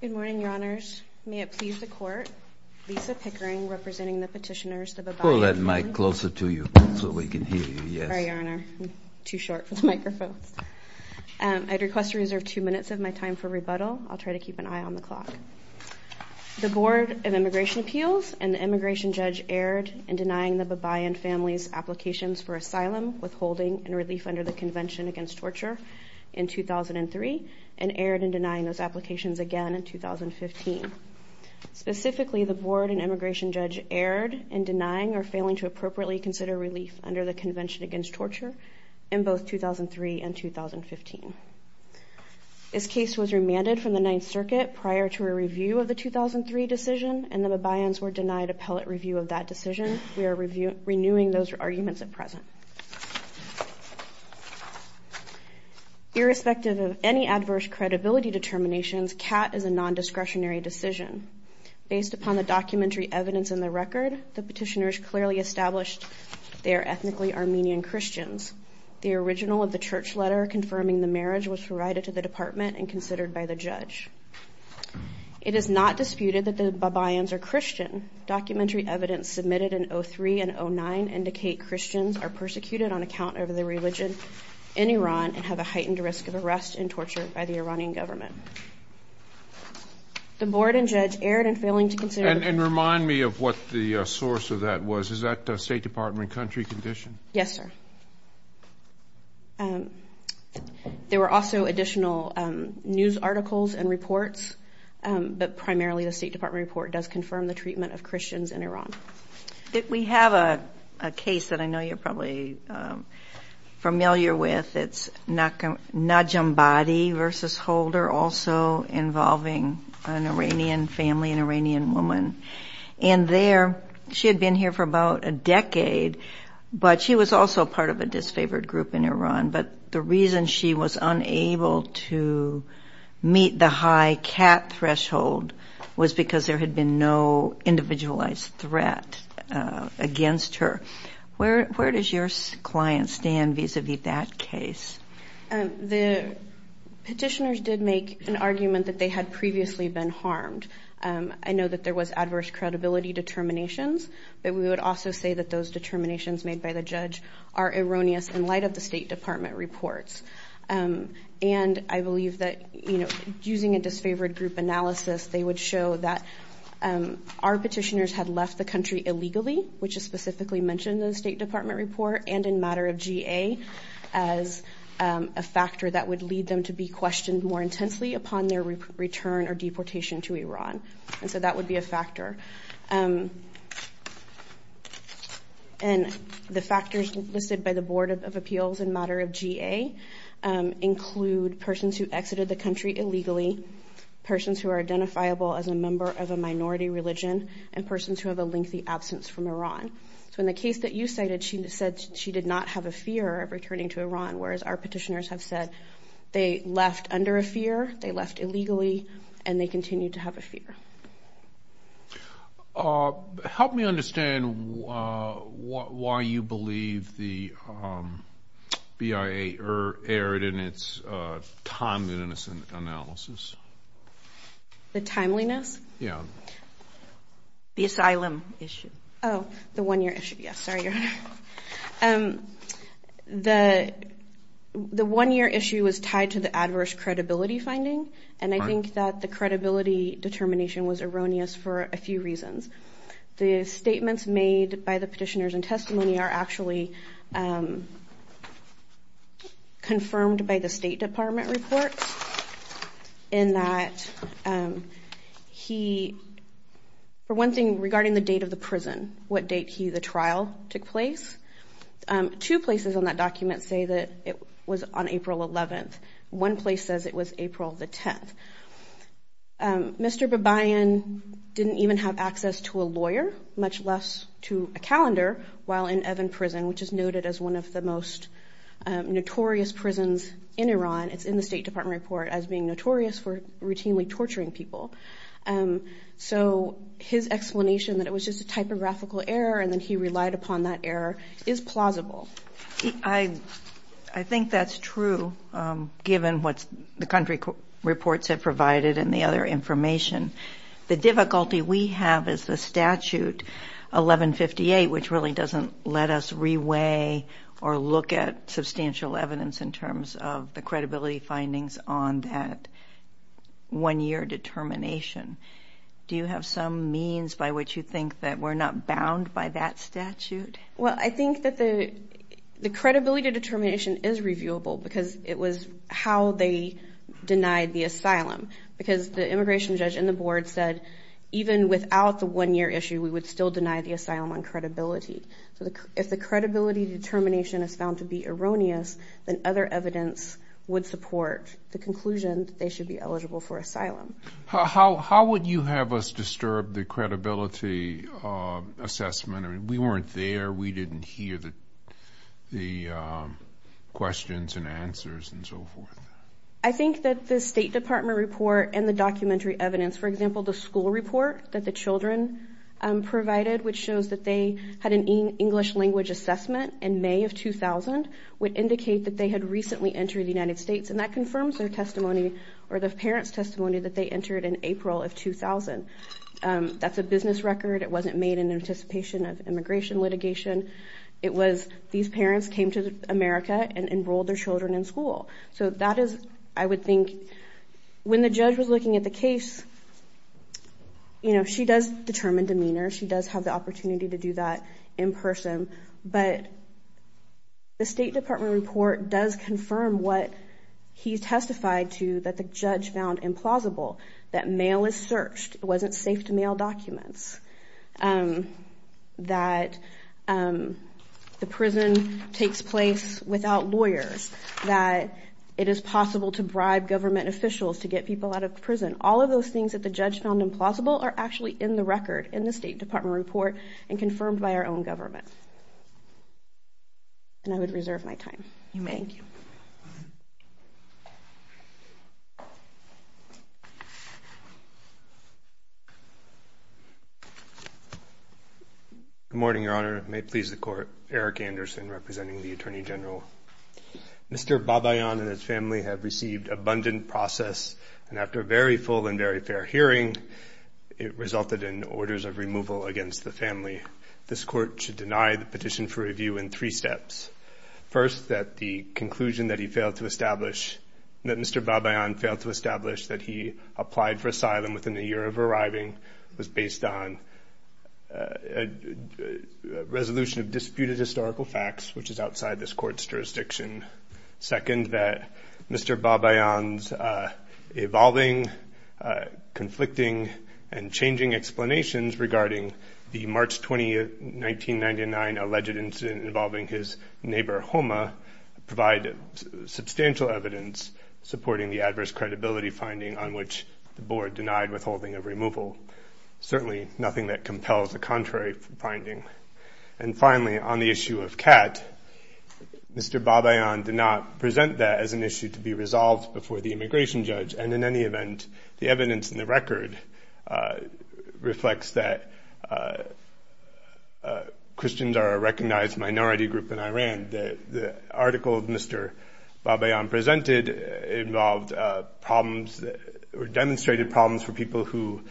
Good morning, Your Honors. May it please the Court, Lisa Pickering, representing the petitioners, the Babayan family. Pull that mic closer to you so we can hear you, yes. Sorry, Your Honor, too short for the microphone. I'd request to reserve two minutes of my time for rebuttal. I'll try to keep an eye on the clock. The Board of Immigration Appeals and the immigration judge erred in denying the Babayan family's applications for asylum, withholding, and torture in 2003, and erred in denying those applications again in 2015. Specifically, the board and immigration judge erred in denying or failing to appropriately consider relief under the Convention Against Torture in both 2003 and 2015. This case was remanded from the Ninth Circuit prior to a review of the 2003 decision, and the Babayans were denied appellate review of that decision. We are renewing those arguments at present. Irrespective of any adverse credibility determinations, CAT is a non-discretionary decision. Based upon the documentary evidence in the record, the petitioners clearly established they are ethnically Armenian Christians. The original of the church letter confirming the marriage was provided to the department and considered by the judge. It is not disputed that the documentary evidence submitted in 2003 and 2009 indicate Christians are persecuted on account of their religion in Iran and have a heightened risk of arrest and torture by the Iranian government. The board and judge erred in failing to consider the... And remind me of what the source of that was. Is that State Department country condition? Yes, sir. There were also additional news articles and reports, but primarily the State We have a case that I know you're probably familiar with. It's Najambadi v. Holder, also involving an Iranian family, an Iranian woman. And there, she had been here for about a decade, but she was also part of a disfavored group in Iran. But the reason she was unable to The petitioners did make an argument that they had previously been harmed. I know that there was adverse credibility determinations, but we would also say that those determinations made by the judge are erroneous in light of the State Department reports. And I believe that using a disfavored group analysis, they would show that our petitioners had left the country illegally, which is specifically mentioned in the State Department report and in matter of GA as a factor that would lead them to be questioned more intensely upon their return or deportation to Iran. And so that would be a factor. And the factors listed by the Board of Appeals in matter of GA include persons who exited the country illegally, persons who are identifiable as a member of a minority religion, and persons who have a lengthy absence from Iran. So in the case that you cited, she said she did not have a fear of returning to Iran, whereas our petitioners have said they left under a fear, they left illegally, and they continued to have a fear. Help me understand why you believe the BIA erred in its time-innocent analysis? The timeliness? Yeah. The asylum issue. Oh, the one-year issue. Yes, sorry, Your Honor. The one-year issue was tied to the adverse credibility finding, and I think that the credibility determination was erroneous for a few reasons. The statements made by the petitioners in testimony are actually confirmed by the State Department report in that he, for one thing, regarding the date of the prison, what date he, the trial, took place, two places on that document say that it was on April 11th. One place says it was April the 10th. Mr. Babayan didn't even have while in Evin prison, which is noted as one of the most notorious prisons in Iran. It's in the State Department report as being notorious for routinely torturing people. So his explanation that it was just a typographical error, and then he relied upon that error, is plausible. I think that's true, given what the country reports have provided and the other information. The difficulty we have is the doesn't let us re-weigh or look at substantial evidence in terms of the credibility findings on that one-year determination. Do you have some means by which you think that we're not bound by that statute? Well, I think that the credibility determination is reviewable because it was how they denied the asylum, because the immigration judge in the board said even without the one-year issue, we would still deny the asylum on credibility. So if the credibility determination is found to be erroneous, then other evidence would support the conclusion they should be eligible for asylum. How would you have us disturb the credibility assessment? I mean, we weren't there. We didn't hear the questions and answers and so forth. I think that the State Department report and the documentary evidence, for example, the children provided, which shows that they had an English language assessment in May of 2000, would indicate that they had recently entered the United States, and that confirms their testimony or the parents' testimony that they entered in April of 2000. That's a business record. It wasn't made in anticipation of immigration litigation. It was these parents came to America and enrolled their children in school. So that is, I would think, when the judge was looking at the case, you know, she does determine demeanor. She does have the opportunity to do that in person. But the State Department report does confirm what he testified to that the judge found implausible. That mail is searched. It wasn't safe to mail documents. That the prison takes place without lawyers. That it is possible to bribe government officials to get people out of prison. All of those things that the judge found implausible are actually in the record in the State Department report and confirmed by our own government. And I would reserve my time. Thank you. Good morning, Your Honor. May it please the Court. Eric Anderson representing the Attorney General. Mr. It resulted in orders of removal against the family. This Court should deny the petition for review in three steps. First, that the conclusion that he failed to establish, that Mr. Babayan failed to establish that he applied for asylum within a year of arriving was based on a resolution of disputed historical facts, which is outside this Court's jurisdiction. Second, that Mr. Babayan's evolving conflicting and changing explanations regarding the March 20, 1999, alleged incident involving his neighbor, Homa, provide substantial evidence supporting the adverse credibility finding on which the Board denied withholding of removal. Certainly nothing that compels a contrary finding. And finally, on the issue of Kat, Mr. Babayan did not present that as an issue to be resolved before the evidence in the record reflects that Christians are a recognized minority group in Iran. The article of Mr. Babayan presented involved problems or demonstrated problems for people who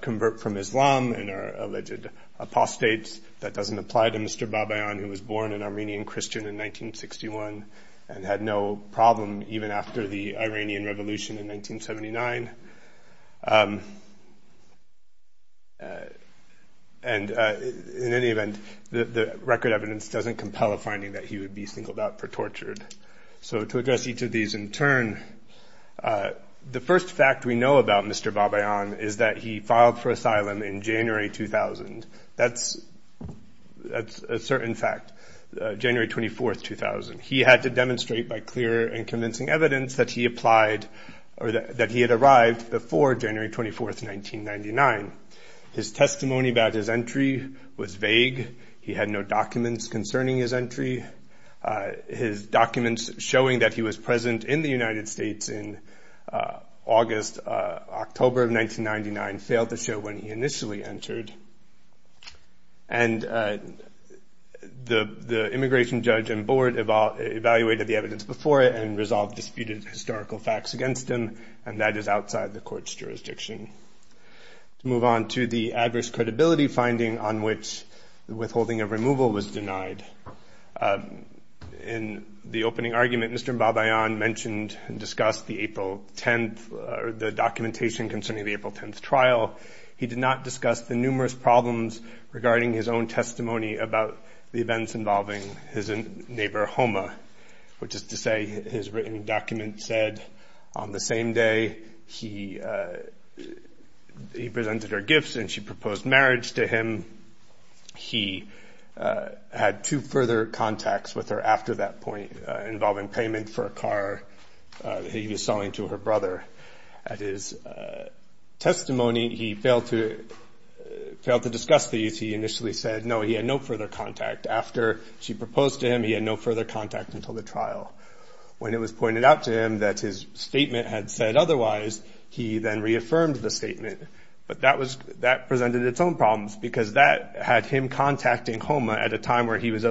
convert from Islam and are alleged apostates. That doesn't apply to Mr. Babayan, who was born an Armenian Christian in Iran. And in any event, the record evidence doesn't compel a finding that he would be singled out for tortured. So to address each of these in turn, the first fact we know about Mr. Babayan is that he filed for asylum in January 2000. That's a certain fact, January 24, 2000. He had to demonstrate by clear and convincing evidence that he applied or that he had arrived before January 24, 1999. His testimony about his entry was vague. He had no documents concerning his entry. His documents showing that he was present in the United States in August, October of 1999 failed to show when he initially entered. And the immigration judge and board evaluated the evidence before it and resolved disputed historical facts against him. And that is outside the court's jurisdiction. To move on to the adverse credibility finding on which the withholding of removal was denied. In the opening argument, Mr. Babayan mentioned and discussed the April 10th or the documentation concerning the April 10th trial. He did not discuss the numerous problems regarding his own testimony about the events involving his neighbor Homa, which is to say his written document said on the same day he presented her gifts and she proposed marriage to him. He had two further contacts with her after that point involving payment for a car he was failed to discuss these. He initially said no, he had no further contact after she proposed to him. He had no further contact until the trial. When it was pointed out to him that his statement had said otherwise, he then reaffirmed the statement. But that was that presented its own problems because that had him contacting Homa at a time where he was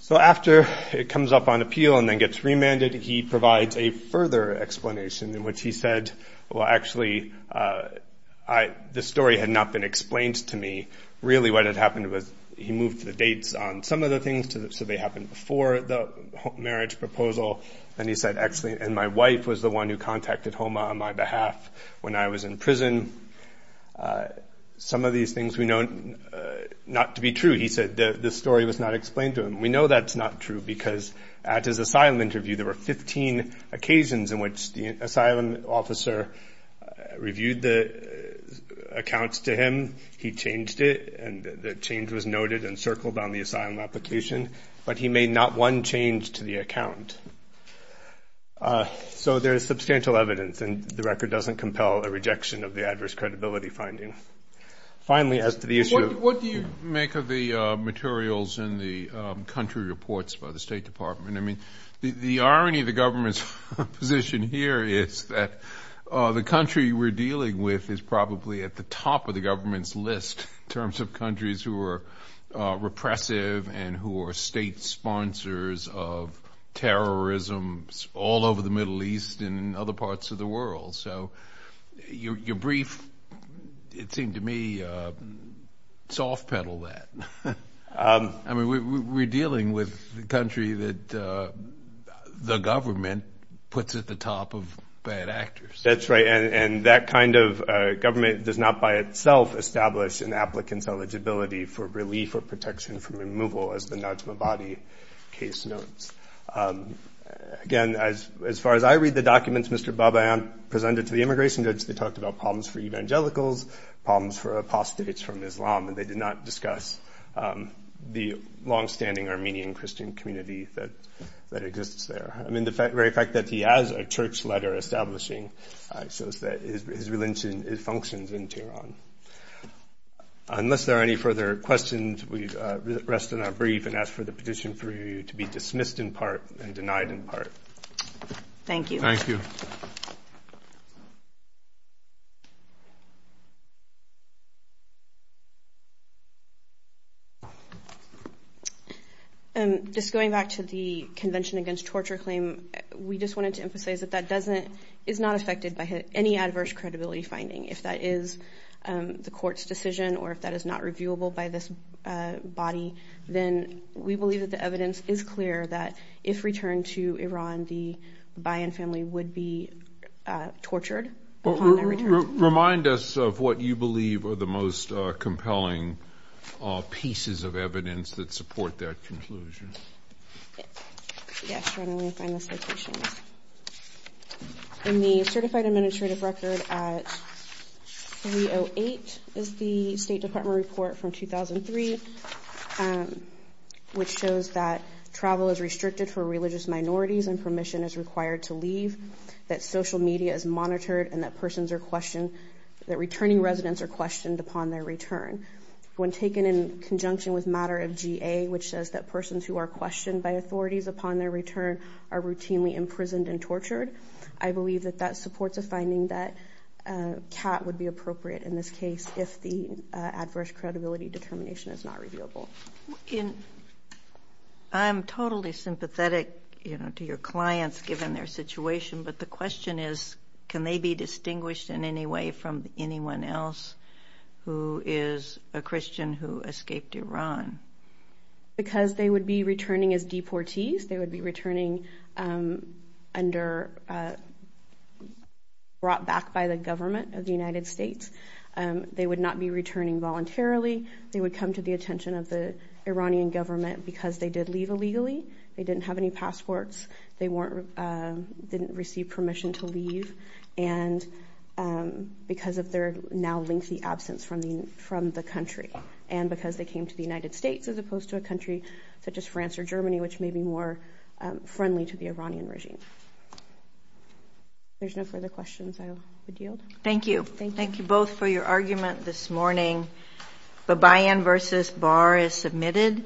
So after it comes up on appeal and then gets remanded, he provides a further explanation in which he said, well actually, the story had not been explained to me. Really what had happened was he moved the dates on some of the things so they happened before the marriage proposal. And he said, actually, and my wife was the one who contacted We know that's not true because at his asylum interview, there were 15 occasions in which the asylum officer reviewed the accounts to him. He changed it and the change was noted and circled on the asylum application. But he made not one change to the account. So there is substantial evidence and the record doesn't compel a rejection of the adverse reports by the State Department. I mean, the irony of the government's position here is that the country we're dealing with is probably at the top of the government's list in terms of countries who are repressive and who are state sponsors of terrorism all over the Middle East and other parts of the world. So your brief, it seemed to me, soft pedaled that. I mean, we're dealing with the country that the government puts at the top of bad actors. That's right. And that kind of government does not by itself establish an applicant's eligibility for relief or protection from removal, as the Najm-e-Badi case notes. Again, as far as I read the documents Mr. Babayan presented to the immigration judge, they talked about problems for evangelicals, problems for apostates from Islam, and they did not discuss the longstanding Armenian Christian community that exists there. I mean, the very fact that he has a church letter establishing his religion functions in Tehran. Unless there are any further questions, we rest on our brief and ask for the petition for review to be dismissed in part and denied in part. Thank you. Just going back to the Convention Against Torture claim, we just wanted to emphasize that that doesn't, is not affected by any adverse credibility finding. If that is the court's decision or if that is not reviewable by this body, then we believe that the Babayan family would be tortured upon their return. Remind us of what you believe are the most compelling pieces of evidence that support that conclusion. In the Certified Administrative Record at 308 is the State Department report from 2003, which shows that travel is required to leave, that social media is monitored, and that persons are questioned, that returning residents are questioned upon their return. When taken in conjunction with matter of GA, which says that persons who are questioned by authorities upon their return are routinely imprisoned and tortured, I believe that that supports a finding that CAT would be appropriate in this case if the adverse credibility determination is not reviewable. I'm totally sympathetic, you know, to your clients given their situation, but the question is can they be distinguished in any way from anyone else who is a Christian who escaped Iran? Because they would be returning as deportees. They would be returning under, brought back by the government of the United States. They would not be returning voluntarily. They would come to the attention of the Iranian government because they did leave illegally, they didn't have any passports, they weren't, didn't receive permission to leave, and because of their now lengthy absence from the country, and because they came to the United States as opposed to a country such as France or Germany, which may be more friendly to the Iranian regime. There's no further questions I would yield. Thank you. Thank you both for your argument this morning. The buy-in versus bar is submitted.